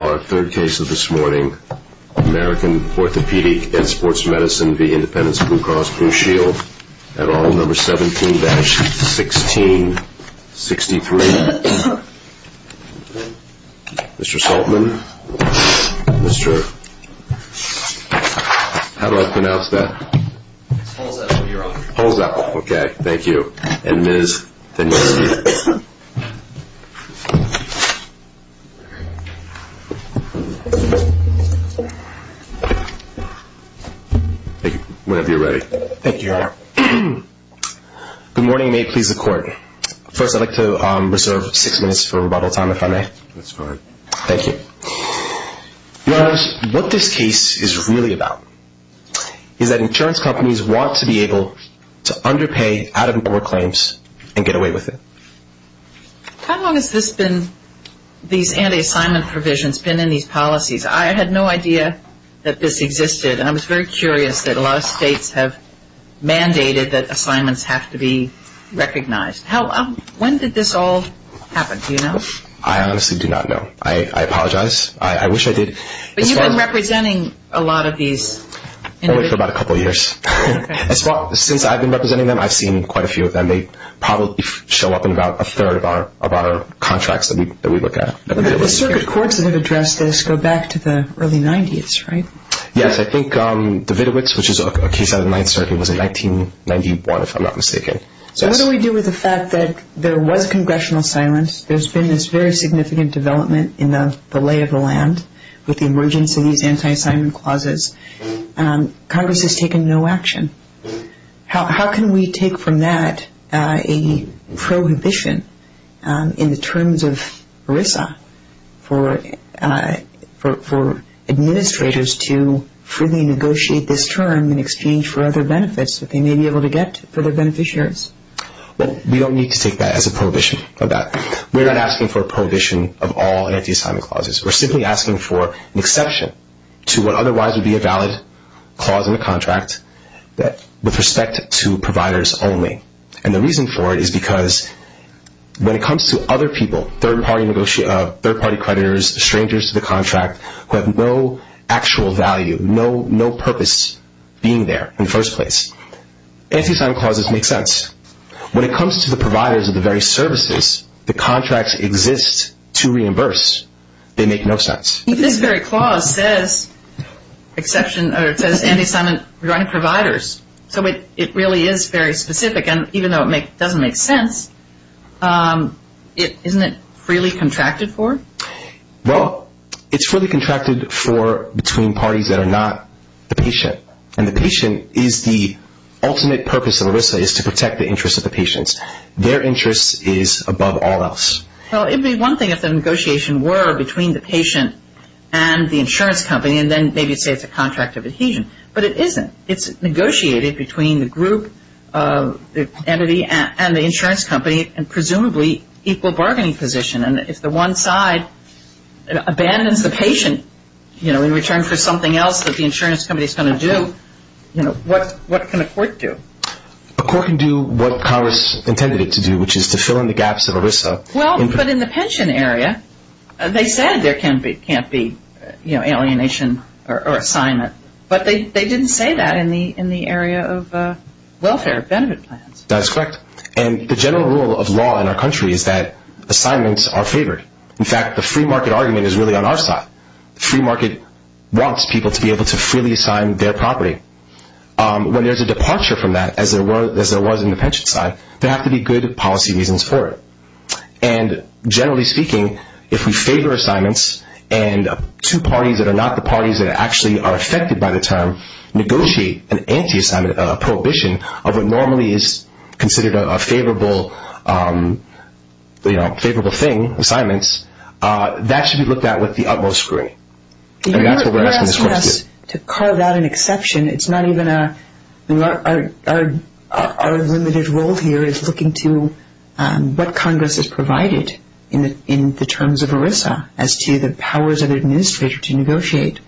Our third case of this morning, American Orthopedic and Sports Medicine v. Independence Blue Cross Blue Shield, at aisle number 17-1663. Mr. Saltman, Mr.... how do I pronounce that? Hold that one, Your Honor. Hold that one, okay. Thank you. And Ms.... Whenever you're ready. Thank you, Your Honor. Good morning, and may it please the Court. First, I'd like to reserve six minutes for rebuttal time, if I may. That's fine. Thank you. Your Honors, what this case is really about is that insurance companies want to be able to underpay out-of-poor claims and get away with it. How long has this been, these anti-assignment provisions, been in these policies? I had no idea that this existed, and I was very curious that a lot of states have mandated that assignments have to be recognized. When did this all happen? Do you know? I honestly do not know. I apologize. I wish I did. But you've been representing a lot of these? Only for about a couple of years. Okay. Since I've been representing them, I've seen quite a few of them. They probably show up in about a third of our contracts that we look at. But the circuit courts that have addressed this go back to the early 90s, right? Yes, I think the Vitowitz, which is a case out of the Ninth Circuit, was in 1991, if I'm not mistaken. So what do we do with the fact that there was congressional silence? There's been this very significant development in the lay of the land with the emergence of these anti-assignment clauses. Congress has taken no action. How can we take from that a prohibition in the terms of ERISA for administrators to freely negotiate this term in exchange for other benefits that they may be able to get for their beneficiaries? Well, we don't need to take that as a prohibition. We're not asking for a prohibition of all anti-assignment clauses. We're simply asking for an exception to what otherwise would be a valid clause in the contract with respect to providers only. And the reason for it is because when it comes to other people, third-party creditors, strangers to the contract who have no actual value, no purpose being there in the first place, anti-assignment clauses make sense. When it comes to the providers of the very services, the contracts exist to reimburse. They make no sense. But this very clause says anti-assignment providers, so it really is very specific. And even though it doesn't make sense, isn't it freely contracted for? Well, it's freely contracted for between parties that are not the patient. And the patient is the ultimate purpose of ERISA is to protect the interests of the patients. Their interest is above all else. Well, it would be one thing if the negotiation were between the patient and the insurance company, and then maybe say it's a contract of adhesion. But it isn't. It's negotiated between the group, the entity, and the insurance company in presumably equal bargaining position. And if the one side abandons the patient in return for something else that the insurance company is going to do, what can a court do? A court can do what Congress intended it to do, which is to fill in the gaps of ERISA. Well, but in the pension area, they said there can't be alienation or assignment. But they didn't say that in the area of welfare benefit plans. That's correct. And the general rule of law in our country is that assignments are favored. In fact, the free market argument is really on our side. The free market wants people to be able to freely assign their property. When there's a departure from that, as there was in the pension side, there have to be good policy reasons for it. And generally speaking, if we favor assignments and two parties that are not the parties that actually are affected by the term negotiate an anti-assignment, a prohibition of what normally is considered a favorable thing, assignments, that should be looked at with the utmost scrutiny. And that's what we're asking this court to do. You're asking us to carve out an exception. Our limited role here is looking to what Congress has provided in the terms of ERISA as to the powers of the administrator to negotiate.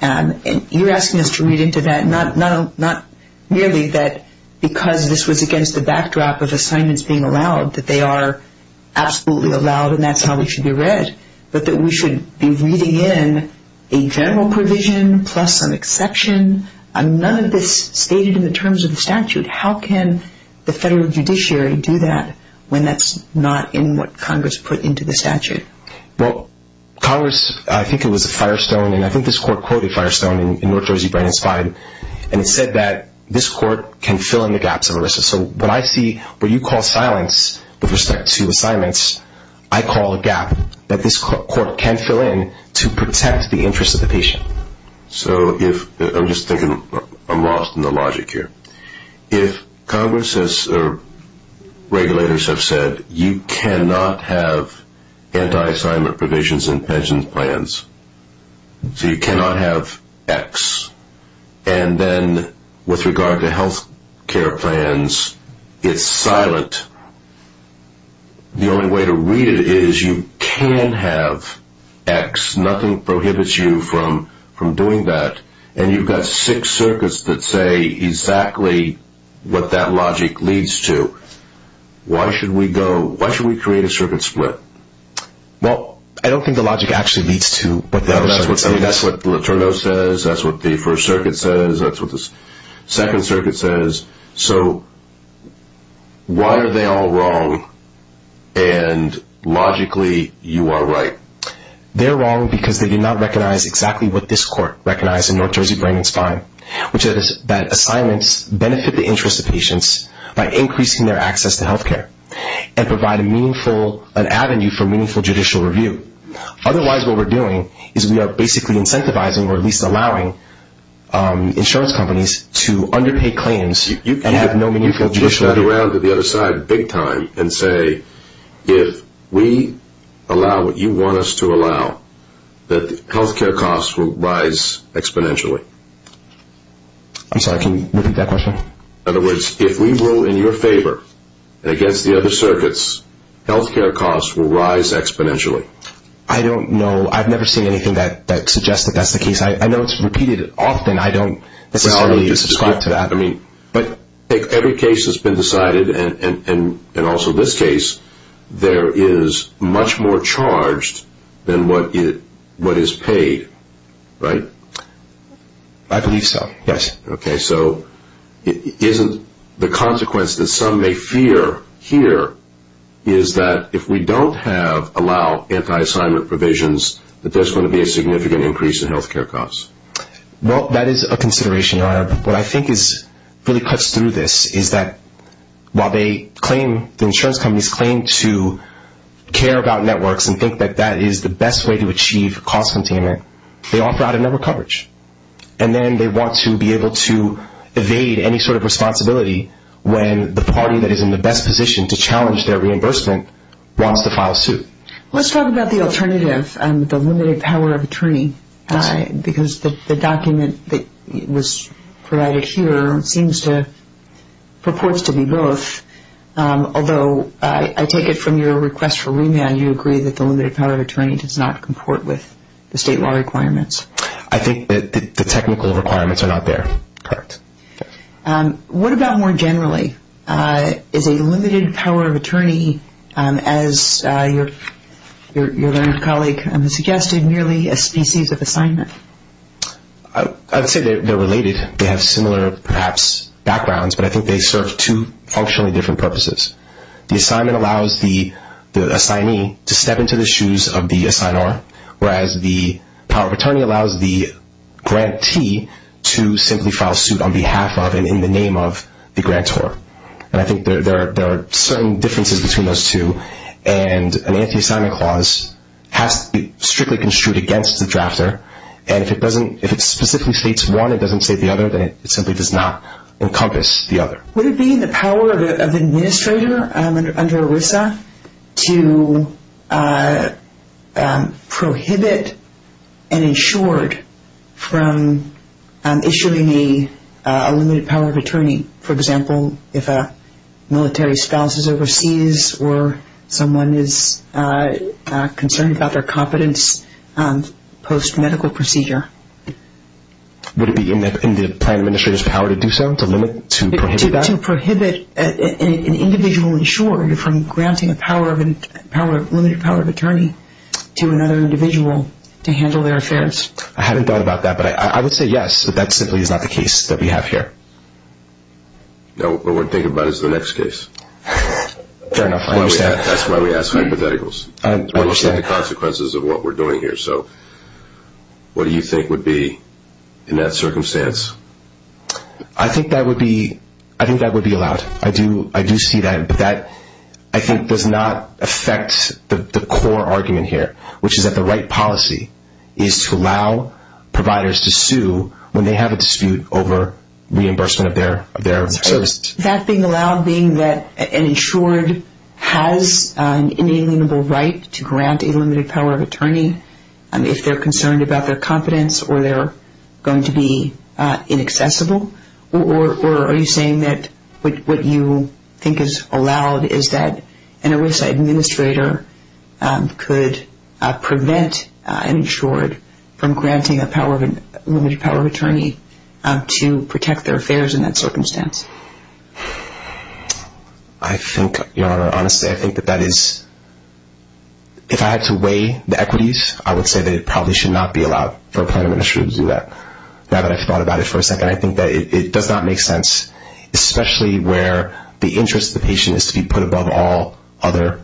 And you're asking us to read into that, not merely that because this was against the backdrop of assignments being allowed, that they are absolutely allowed and that's how they should be read, but that we should be reading in a general provision plus an exception. None of this is stated in the terms of the statute. How can the federal judiciary do that when that's not in what Congress put into the statute? Well, Congress, I think it was Firestone, and I think this court quoted Firestone in North Jersey Brain and Spine, and it said that this court can fill in the gaps of ERISA. So when I see what you call silence with respect to assignments, I call a gap that this court can fill in to protect the interest of the patient. So I'm just thinking I'm lost in the logic here. If regulators have said you cannot have anti-assignment provisions in pension plans, so you cannot have X, and then with regard to health care plans, it's silent, the only way to read it is you can have X. Nothing prohibits you from doing that. And you've got six circuits that say exactly what that logic leads to. Why should we create a circuit split? Well, I don't think the logic actually leads to what the other circuits say. I think that's what the liturgo says, that's what the first circuit says, that's what the second circuit says. So why are they all wrong and logically you are right? They're wrong because they do not recognize exactly what this court recognized in North Jersey Brain and Spine, which is that assignments benefit the interest of patients by increasing their access to health care and provide a meaningful avenue for meaningful judicial review. Otherwise, what we're doing is we are basically incentivizing or at least allowing insurance companies to underpay claims and have no meaningful judicial review. You can flip that around to the other side big time and say, if we allow what you want us to allow, that health care costs will rise exponentially. I'm sorry, can you repeat that question? In other words, if we rule in your favor against the other circuits, health care costs will rise exponentially. I don't know. I've never seen anything that suggests that that's the case. I know it's repeated often. I don't necessarily subscribe to that. But every case has been decided and also this case, there is much more charged than what is paid, right? I believe so, yes. Okay, so isn't the consequence that some may fear here is that if we don't allow anti-assignment provisions, that there's going to be a significant increase in health care costs? Well, that is a consideration, Your Honor. What I think really cuts through this is that while the insurance companies claim to care about networks and think that that is the best way to achieve cost containment, they offer out of network coverage. And then they want to be able to evade any sort of responsibility when the party that is in the best position to challenge their reimbursement wants to file suit. Let's talk about the alternative, the limited power of attorney, because the document that was provided here seems to – purports to be both. Although I take it from your request for remand, you agree that the limited power of attorney does not comport with the state law requirements. I think that the technical requirements are not there. Correct. What about more generally? Is a limited power of attorney, as your learned colleague has suggested, merely a species of assignment? I'd say they're related. They have similar, perhaps, backgrounds, but I think they serve two functionally different purposes. The assignment allows the assignee to step into the shoes of the assignor, whereas the power of attorney allows the grantee to simply file suit on behalf of and in the name of the grantor. And I think there are certain differences between those two, and an anti-assignment clause has to be strictly construed against the drafter, and if it specifically states one, it doesn't state the other, then it simply does not encompass the other. Would it be in the power of an administrator under ERISA to prohibit an insured from issuing a limited power of attorney? For example, if a military spouse is overseas or someone is concerned about their competence post-medical procedure? Would it be in the plan administrator's power to do so, to limit, to prohibit that? To prohibit an individual insured from granting a limited power of attorney to another individual to handle their affairs. I haven't thought about that, but I would say yes, but that simply is not the case that we have here. No, what we're thinking about is the next case. Fair enough, I understand. That's why we ask hypotheticals. I understand. The consequences of what we're doing here. So what do you think would be in that circumstance? I think that would be allowed. I do see that, but that, I think, does not affect the core argument here, which is that the right policy is to allow providers to sue when they have a dispute over reimbursement of their service. That being allowed, being that an insured has an inalienable right to grant a limited power of attorney if they're concerned about their competence or they're going to be inaccessible? Or are you saying that what you think is allowed is that an OASA administrator could prevent an insured from granting a limited power of attorney to protect their affairs in that circumstance? I think, Your Honor, honestly, I think that that is, if I had to weigh the equities, I would say that it probably should not be allowed for a plan administrator to do that. Now that I've thought about it for a second, I think that it does not make sense, especially where the interest of the patient is to be put above all other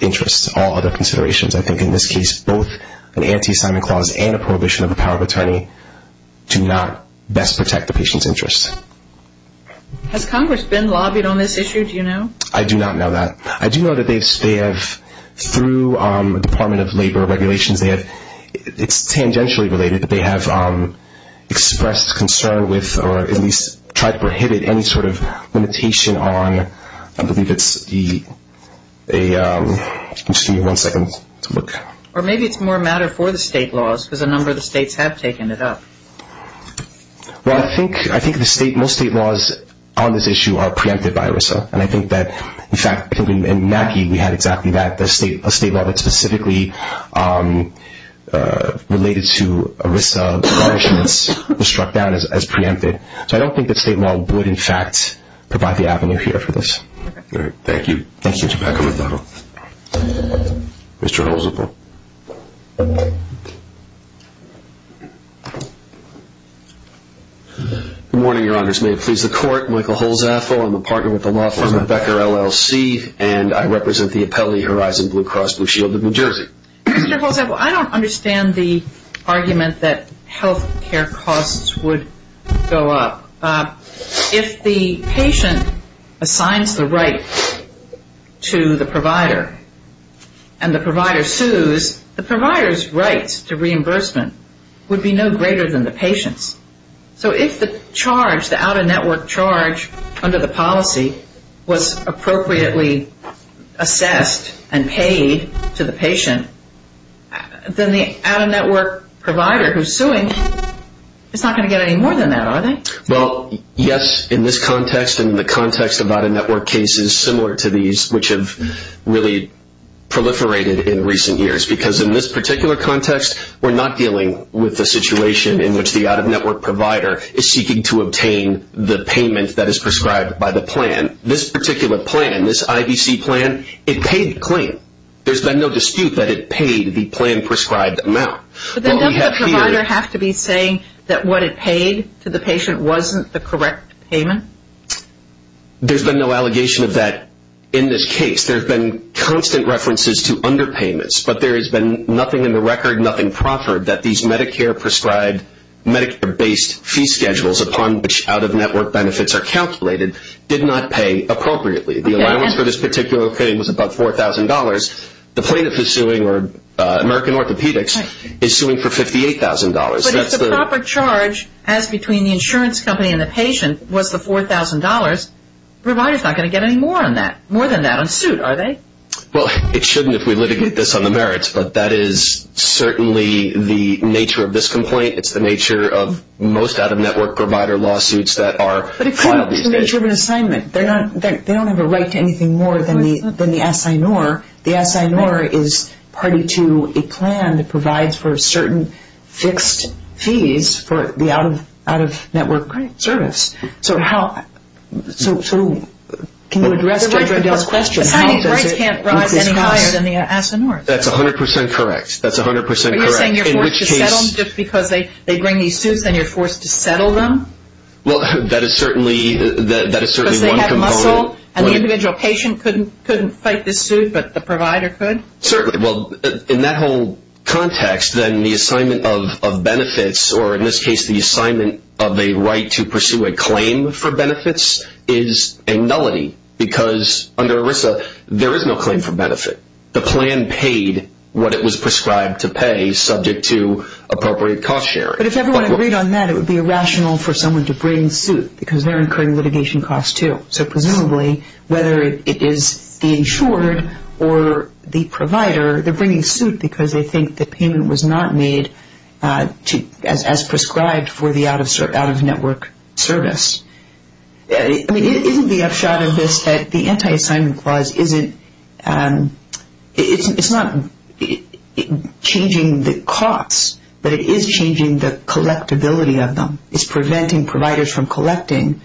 interests, all other considerations. I think in this case, both an anti-assignment clause and a prohibition of a power of attorney do not best protect the patient's interests. Has Congress been lobbied on this issue, do you know? I do not know that. I do know that they have, through Department of Labor regulations, it's tangentially related that they have expressed concern with or at least tried to prohibit any sort of limitation on, I believe it's the, just give me one second to look. Or maybe it's more a matter for the state laws because a number of the states have taken it up. Well, I think most state laws on this issue are preempted by ERISA, and I think that, in fact, in Mackie we had exactly that, a state law that specifically related to ERISA punishments was struck down as preempted. So I don't think the state law would, in fact, provide the avenue here for this. All right. Thank you. Thank you. Mr. Becker, McDonald. Mr. Holzapfel. Good morning, Your Honors. May it please the Court, Michael Holzapfel, I'm a partner with the law firm Becker, LLC, and I represent the appellee Horizon Blue Cross Blue Shield of New Jersey. Mr. Holzapfel, I don't understand the argument that health care costs would go up. If the patient assigns the right to the provider and the provider sues, the provider's rights to reimbursement would be no greater than the patient's. So if the charge, the out-of-network charge under the policy, was appropriately assessed and paid to the patient, then the out-of-network provider who's suing is not going to get any more than that, are they? Well, yes, in this context and in the context of out-of-network cases similar to these, which have really proliferated in recent years, because in this particular context, we're not dealing with the situation in which the out-of-network provider is seeking to obtain the payment that is prescribed by the plan. This particular plan, this IBC plan, it paid the claim. There's been no dispute that it paid the plan-prescribed amount. But then doesn't the provider have to be saying that what it paid to the patient wasn't the correct payment? There's been no allegation of that in this case. There have been constant references to underpayments, but there has been nothing in the record, nothing proffered that these Medicare-prescribed, Medicare-based fee schedules, upon which out-of-network benefits are calculated, did not pay appropriately. The allowance for this particular claim was about $4,000. The plaintiff is suing, or American Orthopedics is suing for $58,000. But if the proper charge, as between the insurance company and the patient, was the $4,000, the provider is not going to get any more on that, more than that, on suit, are they? Well, it shouldn't if we litigate this on the merits, but that is certainly the nature of this complaint. It's the nature of most out-of-network provider lawsuits that are filed these days. But it's the nature of an assignment. They don't have a right to anything more than the assignor. The assignor is party to a plan that provides for certain fixed fees for the out-of-network service. So can you address Judge Riddell's question? Assigning rights can't rise any higher than the assignor. That's 100% correct. That's 100% correct. Are you saying you're forced to settle them just because they bring these suits, and you're forced to settle them? Well, that is certainly one component. Because they have muscle, and the individual patient couldn't fight this suit, but the provider could? Certainly. Well, in that whole context, then the assignment of benefits, or in this case the assignment of a right to pursue a claim for benefits, is a nullity. Because under ERISA, there is no claim for benefit. The plan paid what it was prescribed to pay subject to appropriate cost sharing. But if everyone agreed on that, it would be irrational for someone to bring suit because they're incurring litigation costs too. So presumably, whether it is the insured or the provider, they're bringing suit because they think the payment was not made as prescribed for the out-of-network service. I mean, isn't the upshot of this that the Anti-Assignment Clause isn't – it's not changing the costs, but it is changing the collectability of them. It's preventing providers from collecting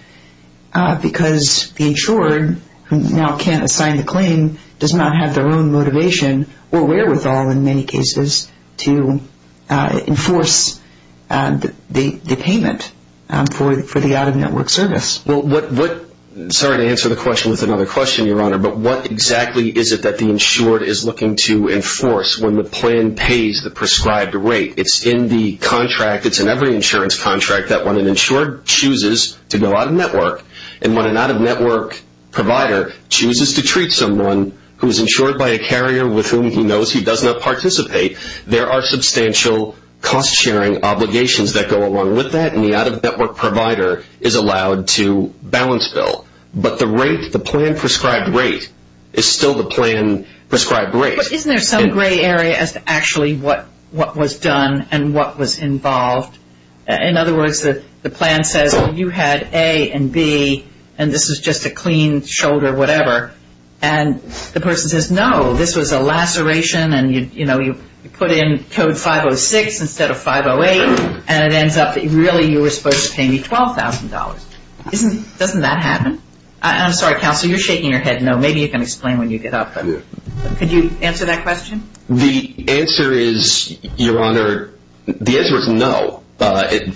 because the insured, who now can't assign the claim, does not have their own motivation or wherewithal, in many cases, to enforce the payment for the out-of-network service. Well, what – sorry to answer the question with another question, Your Honor, but what exactly is it that the insured is looking to enforce when the plan pays the prescribed rate? It's in the contract – it's in every insurance contract that when an insured chooses to go out-of-network and when an out-of-network provider chooses to treat someone who is insured by a carrier with whom he knows he does not participate, there are substantial cost-sharing obligations that go along with that, and the out-of-network provider is allowed to balance bill. But the rate – the plan-prescribed rate is still the plan-prescribed rate. But isn't there some gray area as to actually what was done and what was involved? In other words, the plan says, well, you had A and B, and this is just a clean shoulder whatever. And the person says, no, this was a laceration, and, you know, you put in code 506 instead of 508, and it ends up that really you were supposed to pay me $12,000. Isn't – doesn't that happen? I'm sorry, counsel, you're shaking your head no. Maybe you can explain when you get up. Could you answer that question? The answer is, Your Honor, the answer is no.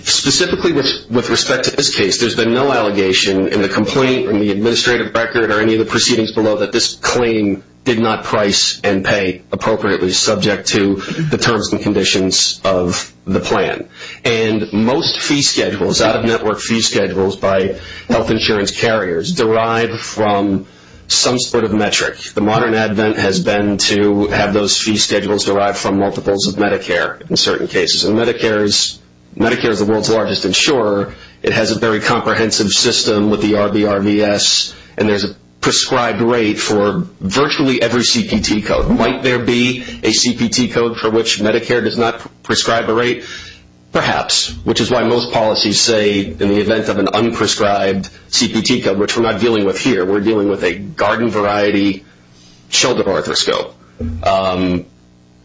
Specifically with respect to this case, there's been no allegation in the complaint or in the administrative record or any of the proceedings below that this claim did not price and pay appropriately subject to the terms and conditions of the plan. And most fee schedules, out-of-network fee schedules by health insurance carriers derive from some sort of metric. The modern advent has been to have those fee schedules derive from multiples of Medicare in certain cases. And Medicare is the world's largest insurer. It has a very comprehensive system with the RBRVS, and there's a prescribed rate for virtually every CPT code. Might there be a CPT code for which Medicare does not prescribe a rate? Perhaps, which is why most policies say in the event of an unprescribed CPT code, which we're not dealing with here, we're dealing with a garden-variety shoulder arthroscope.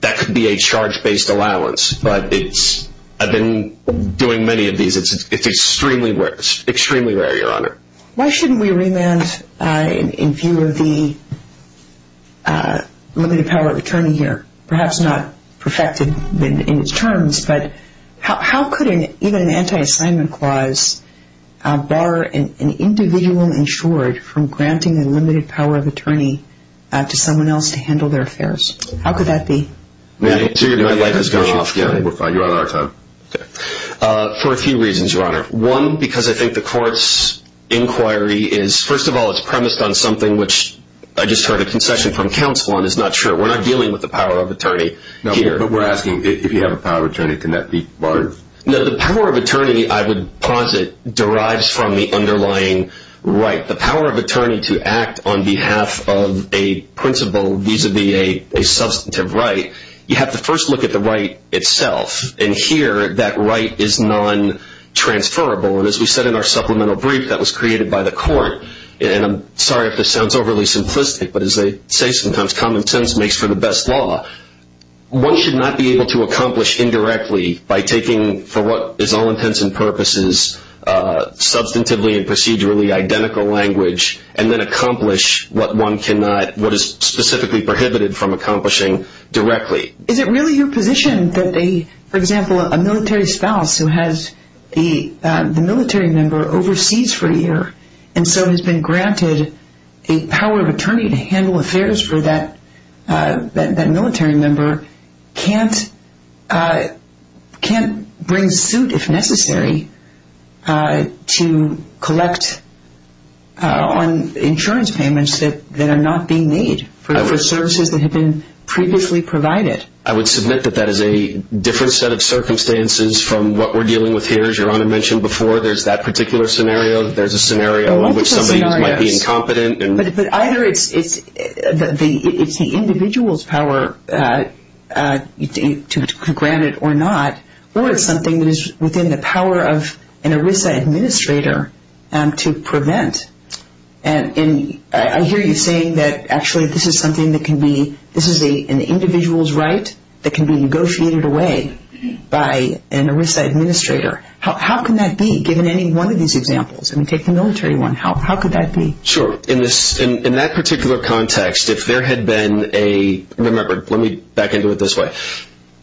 That could be a charge-based allowance, but it's – I've been doing many of these. It's extremely rare, Your Honor. Why shouldn't we remand in view of the limited power of attorney here? Perhaps not perfected in its terms, but how could even an anti-assignment clause bar an individual insured from granting a limited power of attorney to someone else to handle their affairs? How could that be? My light has gone off. You're out of our time. For a few reasons, Your Honor. One, because I think the court's inquiry is – first of all, it's premised on something which I just heard a concession from counsel on. It's not true. We're not dealing with the power of attorney here. But we're asking if you have a power of attorney, can that be barred? No, the power of attorney, I would posit, derives from the underlying right. The power of attorney to act on behalf of a principal vis-a-vis a substantive right, you have to first look at the right itself. And here, that right is non-transferable. And as we said in our supplemental brief that was created by the court – and I'm sorry if this sounds overly simplistic, but as they say sometimes, common sense makes for the best law – one should not be able to accomplish indirectly by taking, for what is all intents and purposes, substantively and procedurally identical language, and then accomplish what one cannot – what is specifically prohibited from accomplishing directly. Is it really your position that, for example, a military spouse who has the military member overseas for a year and so has been granted a power of attorney to handle affairs for that military member, can't bring suit, if necessary, to collect on insurance payments that are not being made for services that have been previously provided? I would submit that that is a different set of circumstances from what we're dealing with here. As Your Honor mentioned before, there's that particular scenario. There's a scenario in which somebody might be incompetent. But either it's the individual's power to grant it or not, or it's something that is within the power of an ERISA administrator to prevent. And I hear you saying that actually this is something that can be – this is an individual's right that can be negotiated away by an ERISA administrator. How can that be, given any one of these examples? I mean, take the military one. How could that be? Sure. In that particular context, if there had been a – remember, let me back into it this way.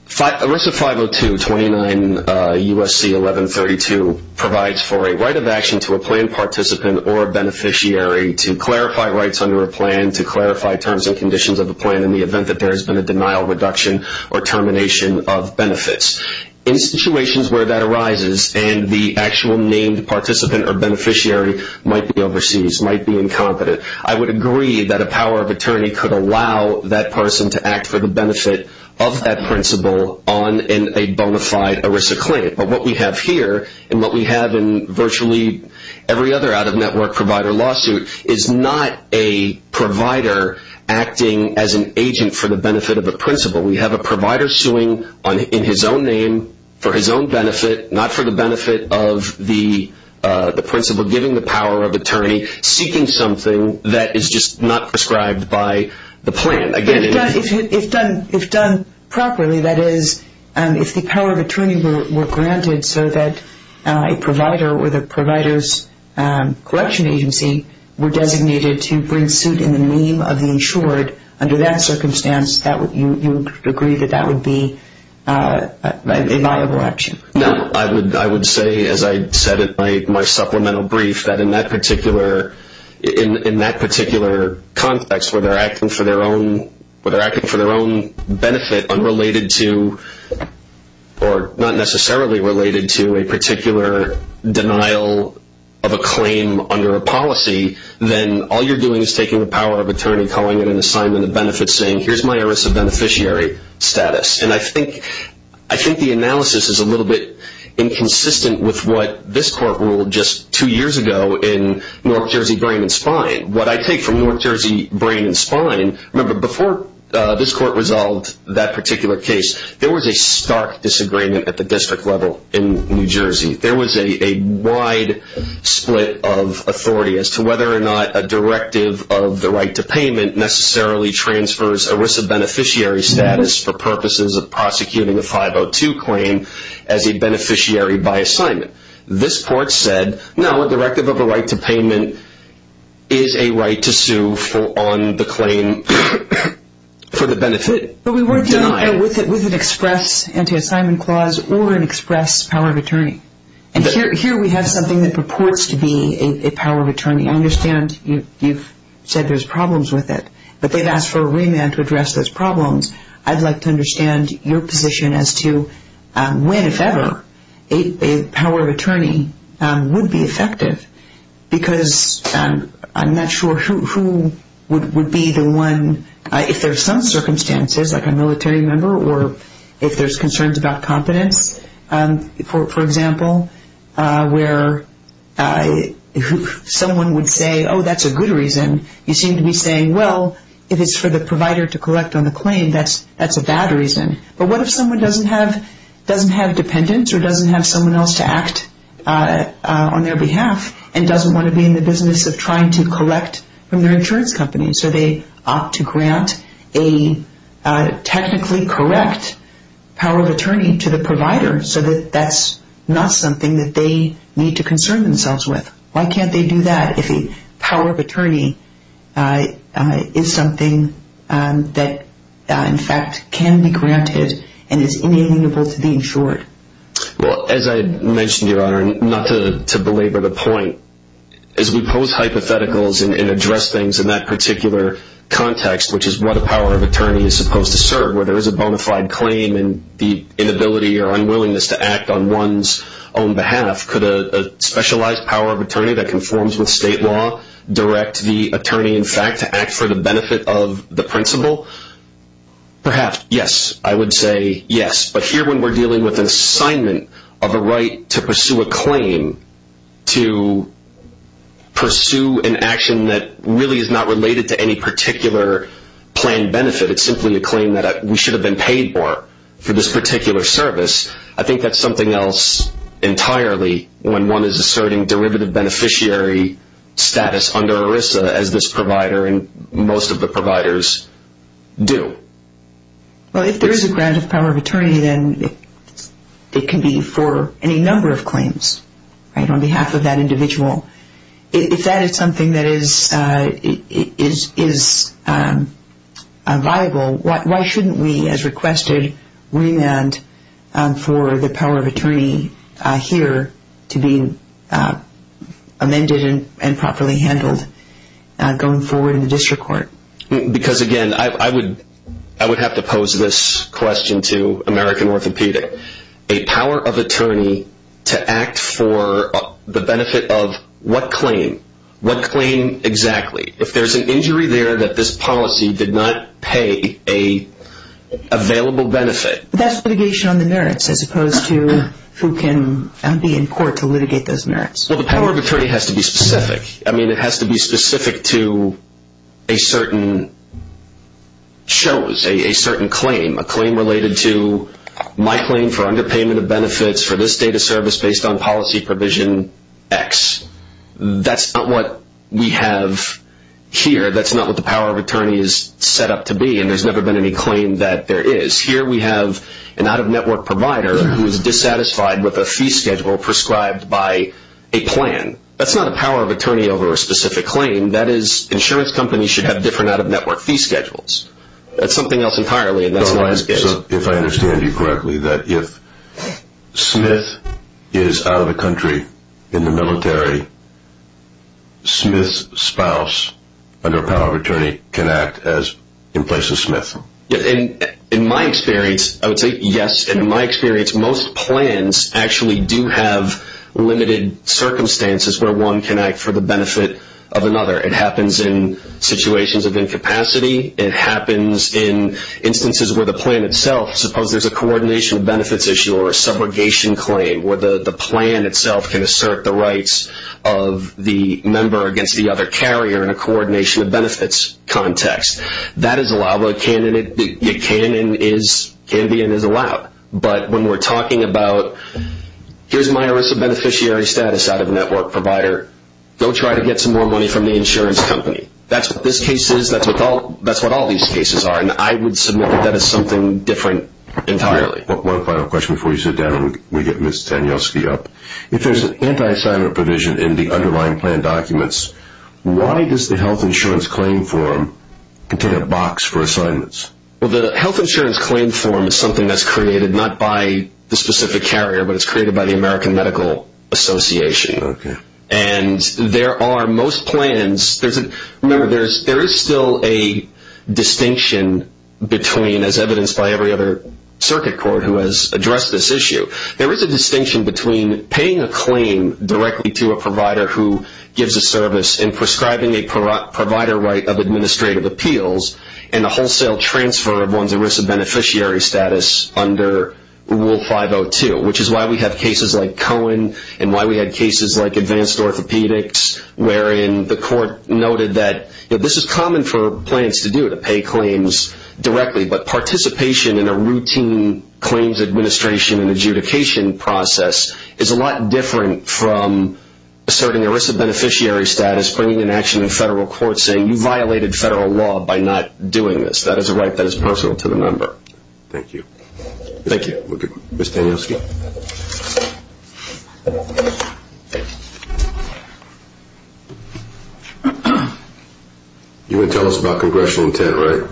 ERISA 502.29 U.S.C. 1132 provides for a right of action to a planned participant or a beneficiary to clarify rights under a plan, to clarify terms and conditions of a plan in the event that there has been a denial, reduction, or termination of benefits. In situations where that arises and the actual named participant or beneficiary might be overseas, might be incompetent, I would agree that a power of attorney could allow that person to act for the benefit of that principal on a bona fide ERISA claim. But what we have here and what we have in virtually every other out-of-network provider lawsuit is not a provider acting as an agent for the benefit of a principal. We have a provider suing in his own name for his own benefit, not for the benefit of the principal giving the power of attorney, seeking something that is just not prescribed by the plan. If done properly, that is, if the power of attorney were granted so that a provider or the provider's collection agency were designated to bring suit in the name of the insured, under that circumstance, you would agree that that would be a viable option. I would say, as I said in my supplemental brief, that in that particular context, where they are acting for their own benefit unrelated to, or not necessarily related to, a particular denial of a claim under a policy, then all you're doing is taking the power of attorney, calling it an assignment of benefits, saying, here's my ERISA beneficiary status. And I think the analysis is a little bit inconsistent with what this court ruled just two years ago in Newark-Jersey Brain and Spine. What I take from Newark-Jersey Brain and Spine, remember, before this court resolved that particular case, there was a stark disagreement at the district level in New Jersey. There was a wide split of authority as to whether or not a directive of the right to payment necessarily transfers ERISA beneficiary status for purposes of prosecuting a 502 claim as a beneficiary by assignment. This court said, no, a directive of a right to payment is a right to sue on the claim for the benefit denied. But we weren't dealing with it with an express anti-assignment clause or an express power of attorney. And here we have something that purports to be a power of attorney. I understand you've said there's problems with it, but they've asked for a remand to address those problems. I'd like to understand your position as to when, if ever, a power of attorney would be effective, because I'm not sure who would be the one, if there's some circumstances, like a military member, or if there's concerns about competence, for example, where someone would say, oh, that's a good reason. You seem to be saying, well, if it's for the provider to collect on the claim, that's a bad reason. But what if someone doesn't have dependents or doesn't have someone else to act on their behalf and doesn't want to be in the business of trying to collect from their insurance company? So they opt to grant a technically correct power of attorney to the provider so that that's not something that they need to concern themselves with. Why can't they do that if a power of attorney is something that, in fact, can be granted and is inalienable to be insured? Well, as I mentioned, Your Honor, and not to belabor the point, as we pose hypotheticals and address things in that particular context, which is what a power of attorney is supposed to serve, where there is a bona fide claim and the inability or unwillingness to act on one's own behalf, could a specialized power of attorney that conforms with state law direct the attorney, in fact, to act for the benefit of the principal? Perhaps, yes. I would say yes. But here, when we're dealing with an assignment of a right to pursue a claim, to pursue an action that really is not related to any particular planned benefit, it's simply a claim that we should have been paid for for this particular service, I think that's something else entirely when one is asserting derivative beneficiary status under ERISA, as this provider and most of the providers do. Well, if there is a grant of power of attorney, then it can be for any number of claims on behalf of that individual. If that is something that is viable, why shouldn't we, as requested, remand for the power of attorney here to be amended and properly handled going forward in the district court? Because, again, I would have to pose this question to American Orthopedic. A power of attorney to act for the benefit of what claim? What claim exactly? If there's an injury there that this policy did not pay an available benefit... That's litigation on the merits as opposed to who can be in court to litigate those merits. Well, the power of attorney has to be specific. I mean, it has to be specific to a certain chose, a certain claim, a claim related to my claim for underpayment of benefits for this data service based on policy provision X. That's not what we have here. That's not what the power of attorney is set up to be, and there's never been any claim that there is. Here we have an out-of-network provider who is dissatisfied with a fee schedule prescribed by a plan. That's not a power of attorney over a specific claim. That is, insurance companies should have different out-of-network fee schedules. That's something else entirely, and that's not what this is. So, if I understand you correctly, that if Smith is out of the country in the military, Smith's spouse, under a power of attorney, can act in place of Smith? In my experience, I would say yes. In my experience, most plans actually do have limited circumstances where one can act for the benefit of another. It happens in situations of incapacity. It happens in instances where the plan itself, suppose there's a coordination of benefits issue or a subrogation claim where the plan itself can assert the rights of the member against the other carrier in a coordination of benefits context. That is allowed. It can be and is allowed. But when we're talking about, here's my ERISA beneficiary status out-of-network provider. Go try to get some more money from the insurance company. That's what this case is. That's what all these cases are, and I would submit that that is something different entirely. One final question before we sit down and we get Ms. Tanyoski up. If there's an anti-assignment provision in the underlying plan documents, why does the health insurance claim form contain a box for assignments? Well, the health insurance claim form is something that's created not by the specific carrier, but it's created by the American Medical Association. Okay. And there are most plans. Remember, there is still a distinction between, as evidenced by every other circuit court who has addressed this issue, there is a distinction between paying a claim directly to a provider who gives a service and prescribing a provider right of administrative appeals and a wholesale transfer of one's ERISA beneficiary status under Rule 502, which is why we have cases like Cohen and why we had cases like Advanced Orthopedics, wherein the court noted that this is common for plans to do, to pay claims directly, but participation in a routine claims administration and adjudication process is a lot different from asserting ERISA beneficiary status, bringing in action in federal court, saying you violated federal law by not doing this. That is a right that is personal to the member. Thank you. Thank you. Okay. Ms. Danielski. You're going to tell us about congressional intent, right?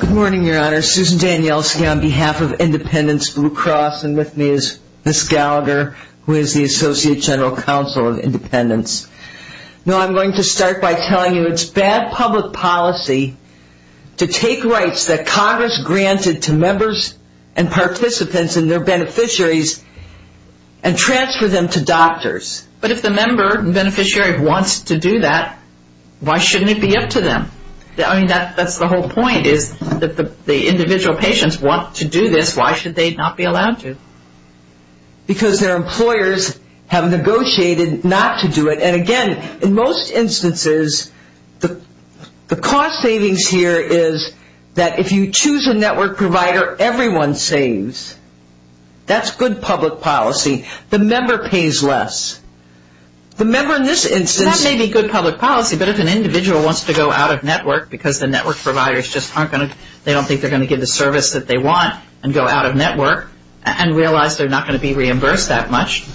Good morning, Your Honor. Susan Danielski on behalf of Independence Blue Cross, and with me is Ms. Gallagher, who is the Associate General Counsel of Independence. I'm going to start by telling you it's bad public policy to take rights that Congress granted to members and participants and their beneficiaries and transfer them to doctors. But if the member and beneficiary wants to do that, why shouldn't it be up to them? I mean, that's the whole point is that the individual patients want to do this. Why should they not be allowed to? Because their employers have negotiated not to do it. And, again, in most instances, the cost savings here is that if you choose a network provider, everyone saves. That's good public policy. The member pays less. The member in this instance. That may be good public policy, but if an individual wants to go out of network because the network providers just aren't going to, they don't think they're going to get the service that they want and go out of network and realize they're not going to be reimbursed that much,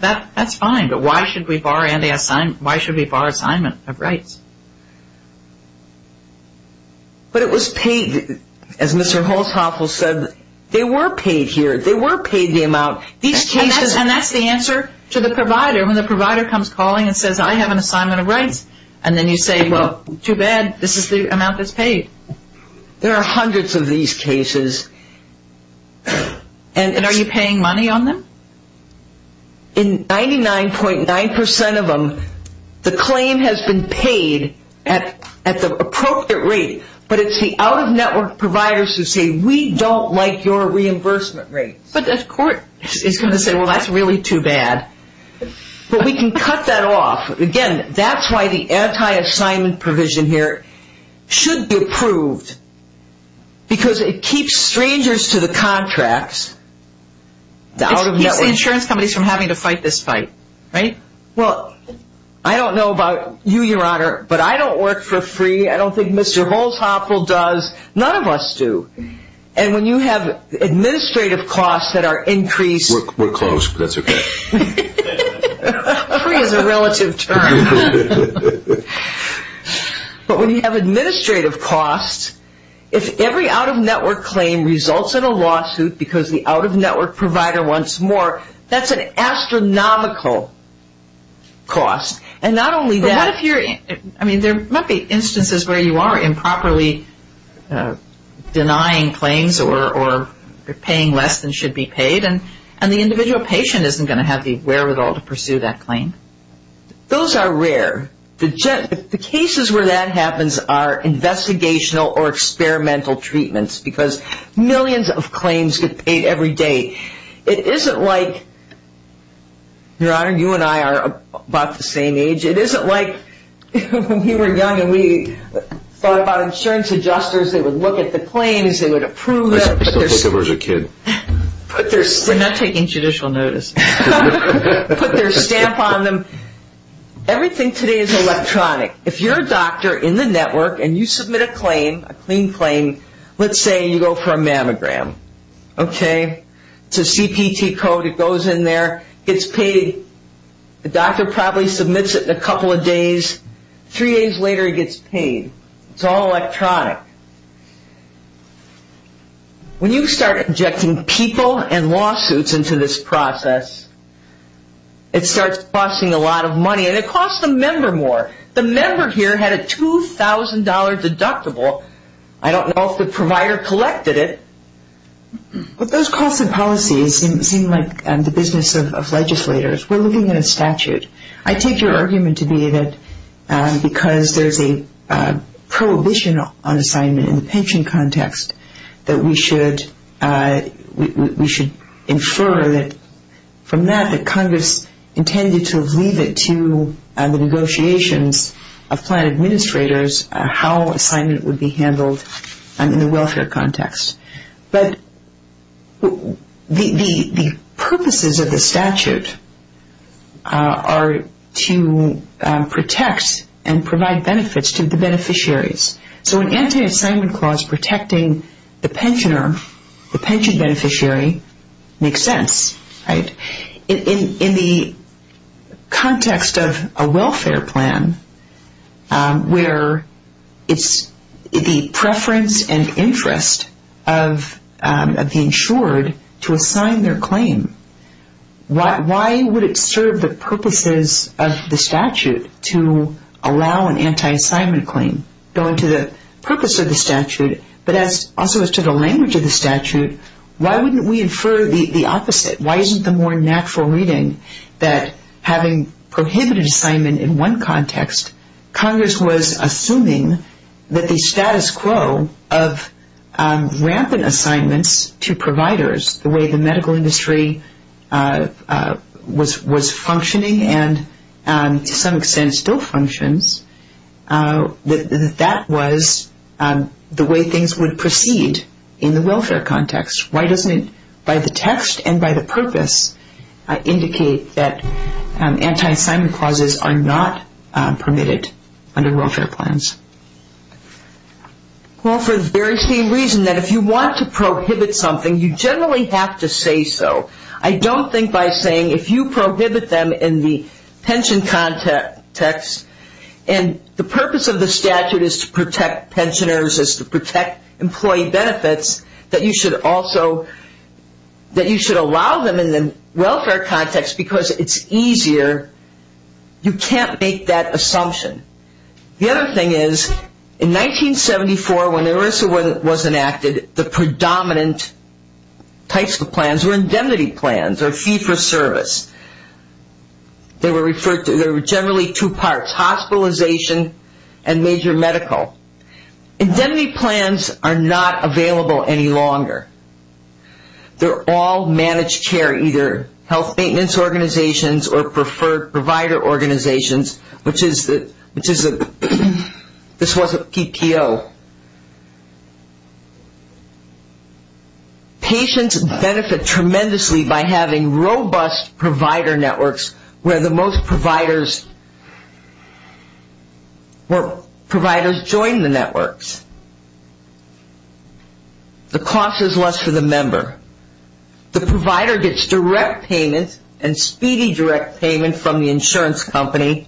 that's fine. But why should we bar assignment of rights? But it was paid, as Mr. Holzhoffel said, they were paid here. They were paid the amount. And that's the answer to the provider. When the provider comes calling and says, I have an assignment of rights, and then you say, well, too bad. This is the amount that's paid. There are hundreds of these cases. And are you paying money on them? In 99.9% of them, the claim has been paid at the appropriate rate, but it's the out-of-network providers who say, we don't like your reimbursement rates. But the court is going to say, well, that's really too bad. But we can cut that off. Again, that's why the anti-assignment provision here should be approved because it keeps strangers to the contracts. It keeps the insurance companies from having to fight this fight, right? Well, I don't know about you, Your Honor, but I don't work for free. I don't think Mr. Holzhoffel does. None of us do. And when you have administrative costs that are increased. We're close, but that's okay. Free is a relative term. But when you have administrative costs, if every out-of-network claim results in a lawsuit because the out-of-network provider wants more, that's an astronomical cost. And not only that. But what if you're, I mean, there might be instances where you are improperly denying claims or paying less than should be paid, and the individual patient isn't going to have the wherewithal to pursue that claim. Those are rare. The cases where that happens are investigational or experimental treatments because millions of claims get paid every day. It isn't like, Your Honor, you and I are about the same age. It isn't like when we were young and we thought about insurance adjusters, they would look at the claims, they would approve them. I used to look at them when I was a kid. They're not taking judicial notice. Put their stamp on them. Everything today is electronic. If you're a doctor in the network and you submit a claim, a clean claim, let's say you go for a mammogram, okay? It's a CPT code. It goes in there, gets paid. The doctor probably submits it in a couple of days. Three days later, it gets paid. It's all electronic. When you start injecting people and lawsuits into this process, it starts costing a lot of money, and it costs a member more. The member here had a $2,000 deductible. I don't know if the provider collected it. But those costs and policies seem like the business of legislators. We're looking at a statute. I take your argument to be that because there's a prohibition on assignment in the pension context, that we should infer that from that, that Congress intended to leave it to the negotiations of plan administrators how assignment would be handled in the welfare context. But the purposes of the statute are to protect and provide benefits to the beneficiaries. So an anti-assignment clause protecting the pensioner, the pension beneficiary, makes sense, right? In the context of a welfare plan where it's the preference and interest of the insured to assign their claim, why would it serve the purposes of the statute to allow an anti-assignment claim going to the purpose of the statute, but also as to the language of the statute, why wouldn't we infer the opposite? Why isn't the more natural reading that having prohibited assignment in one context, Congress was assuming that the status quo of rampant assignments to providers, the way the medical industry was functioning and to some extent still functions, that that was the way things would proceed in the welfare context? Why doesn't it, by the text and by the purpose, indicate that anti-assignment clauses are not permitted under welfare plans? Well, for the very same reason that if you want to prohibit something, you generally have to say so. I don't think by saying if you prohibit them in the pension context and the purpose of the statute is to protect pensioners, is to protect employee benefits, that you should also, that you should allow them in the welfare context because it's easier. You can't make that assumption. The other thing is, in 1974 when ERISA was enacted, the predominant types of plans were indemnity plans or fee for service. They were referred to, there were generally two parts, hospitalization and major medical. Indemnity plans are not available any longer. They're all managed care, either health maintenance organizations or preferred provider organizations, which is, this was a PPO. Patients benefit tremendously by having robust provider networks where the most providers join the networks. The provider gets direct payment and speedy direct payment from the insurance company,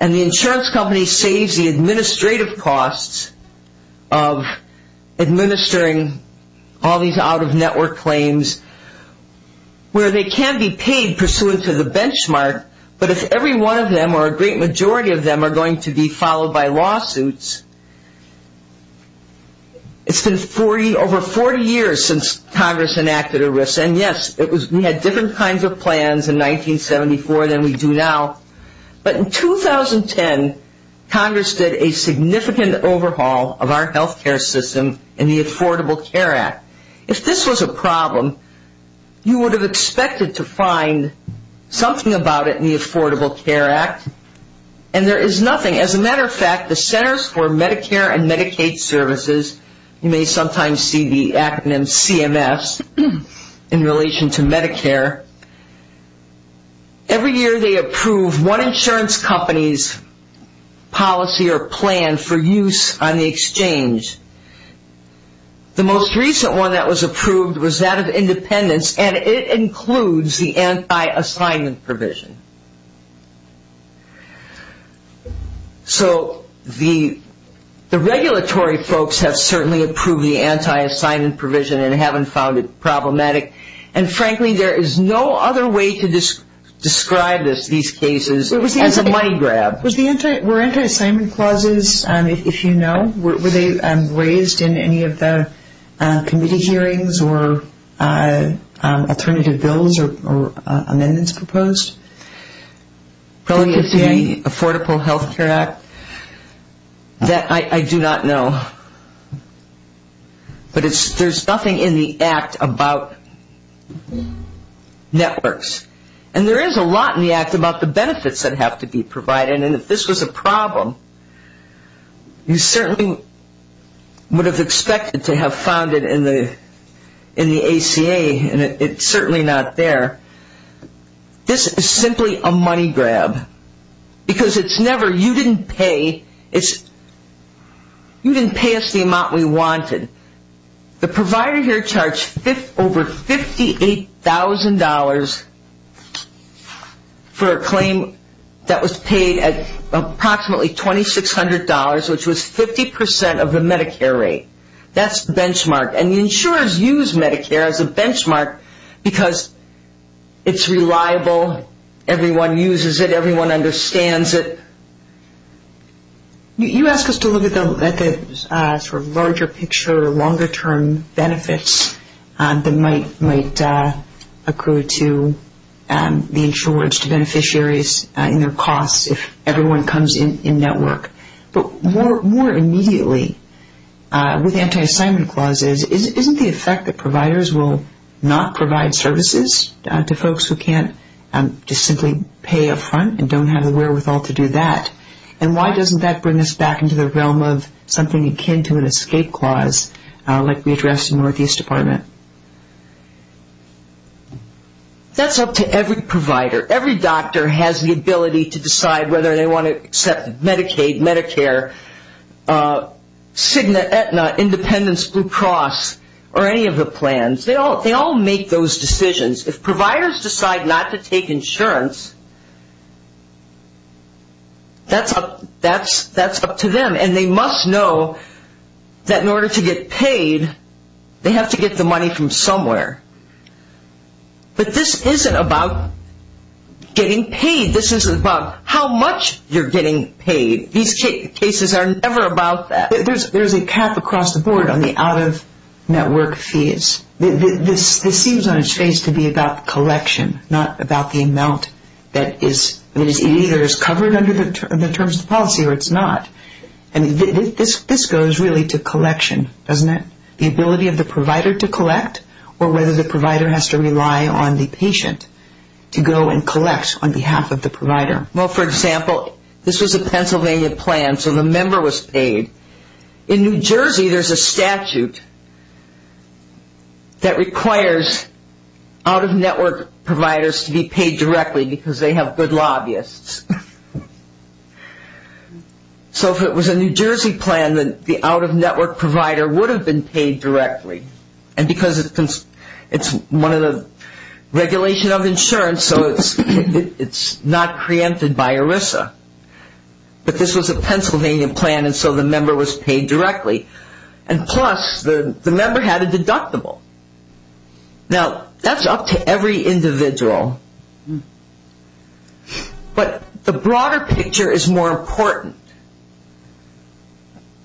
and the insurance company saves the administrative costs of administering all these out-of-network claims where they can be paid pursuant to the benchmark, but if every one of them or a great majority of them are going to be followed by lawsuits, it's been over 40 years since Congress enacted ERISA, and yes, we had different kinds of plans in 1974 than we do now, but in 2010, Congress did a significant overhaul of our health care system in the Affordable Care Act. If this was a problem, you would have expected to find something about it in the Affordable Care Act, and there is nothing. As a matter of fact, the Centers for Medicare and Medicaid Services, you may sometimes see the acronym CMS in relation to Medicare, every year they approve one insurance company's policy or plan for use on the exchange. The most recent one that was approved was that of Independence, and it includes the anti-assignment provision. So the regulatory folks have certainly approved the anti-assignment provision and haven't found it problematic, and frankly there is no other way to describe these cases as a money grab. Were anti-assignment clauses, if you know, were they raised in any of the committee hearings or alternative bills or amendments proposed? Probably in the Affordable Health Care Act. That I do not know, but there is nothing in the Act about networks, and there is a lot in the Act about the benefits that have to be provided, and if this was a problem, you certainly would have expected to have found it in the ACA, and it's certainly not there. This is simply a money grab, because it's never, you didn't pay, you didn't pay us the amount we wanted. The provider here charged over $58,000 for a claim that was paid at approximately $2,600, which was 50% of the Medicare rate. That's the benchmark, and the insurers use Medicare as a benchmark because it's reliable, everyone uses it, everyone understands it. You asked us to look at the sort of larger picture, longer-term benefits that might accrue to the insurers, to beneficiaries in their costs if everyone comes in network. But more immediately, with anti-assignment clauses, isn't the effect that providers will not provide services to folks who can't just simply pay up front and don't have the wherewithal to do that, and why doesn't that bring us back into the realm of something akin to an escape clause like we addressed in the Northeast Department? That's up to every provider. Every doctor has the ability to decide whether they want to accept Medicaid, Medicare, Cigna, Aetna, Independence, Blue Cross, or any of the plans. They all make those decisions. If providers decide not to take insurance, that's up to them, and they must know that in order to get paid, they have to get the money from somewhere. But this isn't about getting paid. This isn't about how much you're getting paid. These cases are never about that. There's a cap across the board on the out-of-network fees. This seems on its face to be about collection, not about the amount that is either covered under the terms of policy or it's not. And this goes really to collection, doesn't it, the ability of the provider to collect or whether the provider has to rely on the patient to go and collect on behalf of the provider. Well, for example, this was a Pennsylvania plan, so the member was paid. In New Jersey, there's a statute that requires out-of-network providers to be paid directly because they have good lobbyists. So if it was a New Jersey plan, the out-of-network provider would have been paid directly, and because it's one of the regulations of insurance, so it's not preempted by ERISA. But this was a Pennsylvania plan, and so the member was paid directly. And plus, the member had a deductible. Now, that's up to every individual. But the broader picture is more important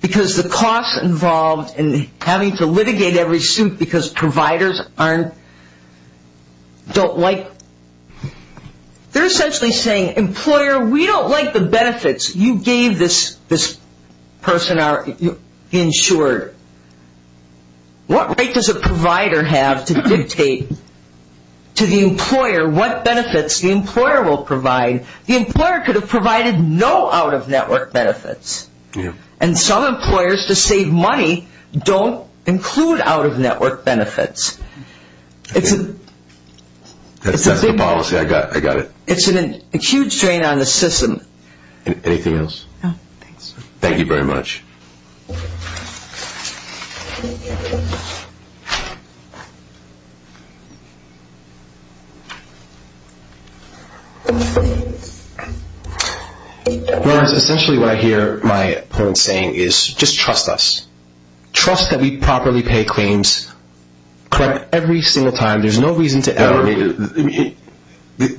because the costs involved in having to litigate every suit because providers don't like, they're essentially saying, employer, we don't like the benefits you gave this person or insured. What right does a provider have to dictate to the employer what benefits the employer will provide? The employer could have provided no out-of-network benefits, and some employers, to save money, don't include out-of-network benefits. That's the policy. I got it. It's a huge drain on the system. Anything else? No, thanks. Thank you very much. Lawrence, essentially what I hear my opponent saying is, just trust us. Trust that we properly pay claims, correct, every single time. There's no reason to ever make it.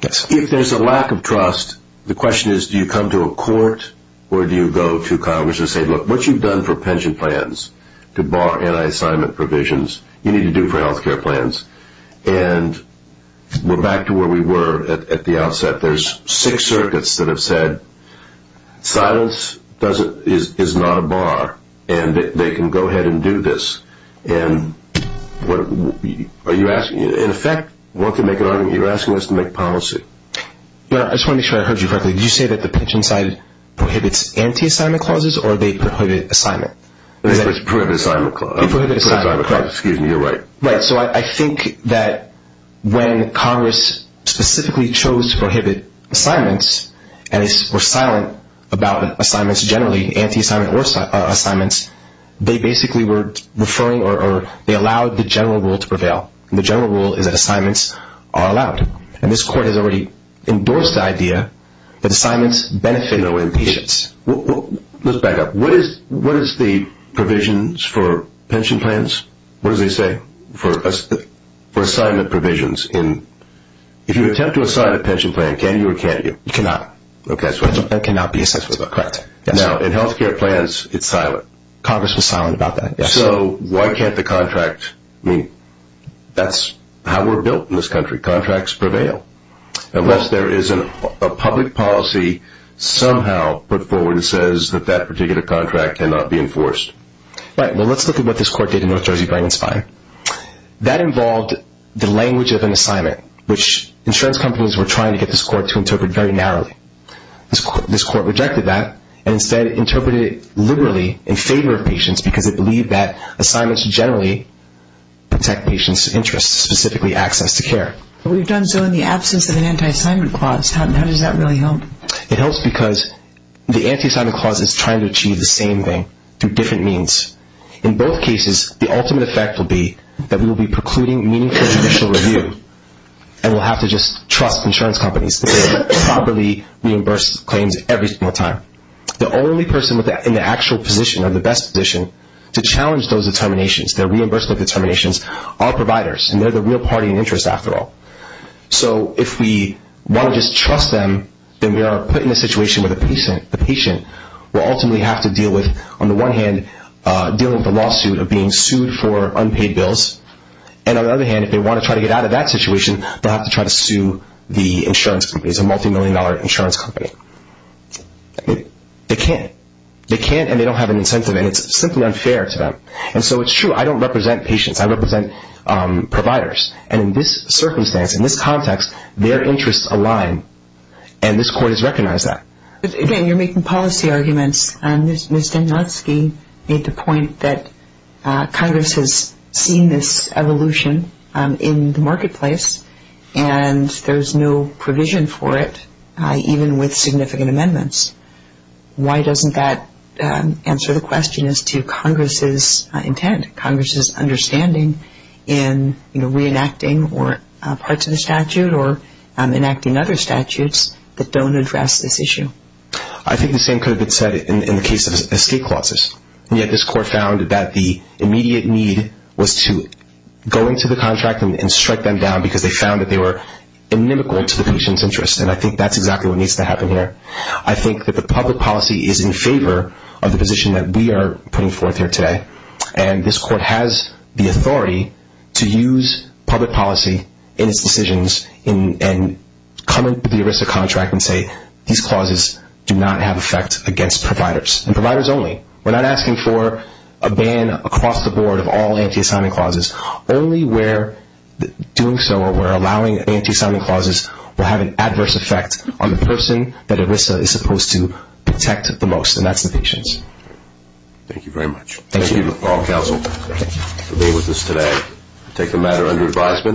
If there's a lack of trust, the question is, do you come to a court or do you go to Congress? and say, look, what you've done for pension plans to bar anti-assignment provisions, you need to do for health care plans. And we're back to where we were at the outset. There's six circuits that have said, silence is not a bar, and they can go ahead and do this. And what are you asking? In effect, you're asking us to make policy. I just want to make sure I heard you correctly. Did you say that the pension side prohibits anti-assignment clauses or they prohibit assignment? They prohibit assignment clauses. They prohibit assignment clauses. Excuse me, you're right. Right, so I think that when Congress specifically chose to prohibit assignments and were silent about assignments generally, anti-assignment or assignments, they basically were referring or they allowed the general rule to prevail. The general rule is that assignments are allowed. And this court has already endorsed the idea that assignments benefit patients. Let's back up. What is the provisions for pension plans? What do they say for assignment provisions? If you attempt to assign a pension plan, can you or can't you? You cannot. Okay. That cannot be assessed. Correct. Now, in health care plans, it's silent. Congress was silent about that, yes. So why can't the contract? I mean, that's how we're built in this country. Contracts prevail unless there is a public policy somehow put forward that says that that particular contract cannot be enforced. Right. Well, let's look at what this court did in North Jersey Brain and Spine. That involved the language of an assignment, which insurance companies were trying to get this court to interpret very narrowly. This court rejected that and instead interpreted it liberally in favor of patients because it believed that assignments generally protect patients' interests, specifically access to care. But we've done so in the absence of an anti-assignment clause. How does that really help? It helps because the anti-assignment clause is trying to achieve the same thing through different means. In both cases, the ultimate effect will be that we will be precluding meaningful judicial review and we'll have to just trust insurance companies to properly reimburse claims every single time. The only person in the actual position or the best position to challenge those determinations, their reimbursement determinations, are providers, and they're the real party in interest after all. So if we want to just trust them, then we are put in a situation where the patient will ultimately have to deal with, on the one hand, dealing with a lawsuit of being sued for unpaid bills, and on the other hand, if they want to try to get out of that situation, they'll have to try to sue the insurance companies, a multimillion-dollar insurance company. They can't. They can't, and they don't have an incentive, and it's simply unfair to them. And so it's true. I don't represent patients. I represent providers. And in this circumstance, in this context, their interests align, and this court has recognized that. Again, you're making policy arguments, and Ms. Danielewski made the point that Congress has seen this evolution in the marketplace, and there's no provision for it, even with significant amendments. Why doesn't that answer the question as to Congress's intent, Congress's understanding in reenacting parts of the statute or enacting other statutes that don't address this issue? I think the same could have been said in the case of escape clauses, and yet this court found that the immediate need was to go into the contract and strike them down because they found that they were inimical to the patient's interests, and I think that's exactly what needs to happen here. I think that the public policy is in favor of the position that we are putting forth here today, and this court has the authority to use public policy in its decisions and come into the ERISA contract and say these clauses do not have effect against providers, and providers only. We're not asking for a ban across the board of all anti-assignment clauses. Only where doing so or allowing anti-assignment clauses will have an adverse effect on the person that ERISA is supposed to protect the most, and that's the patients. Thank you very much. Thank you. Thank you to all counsel for being with us today. We'll take the matter under advisement.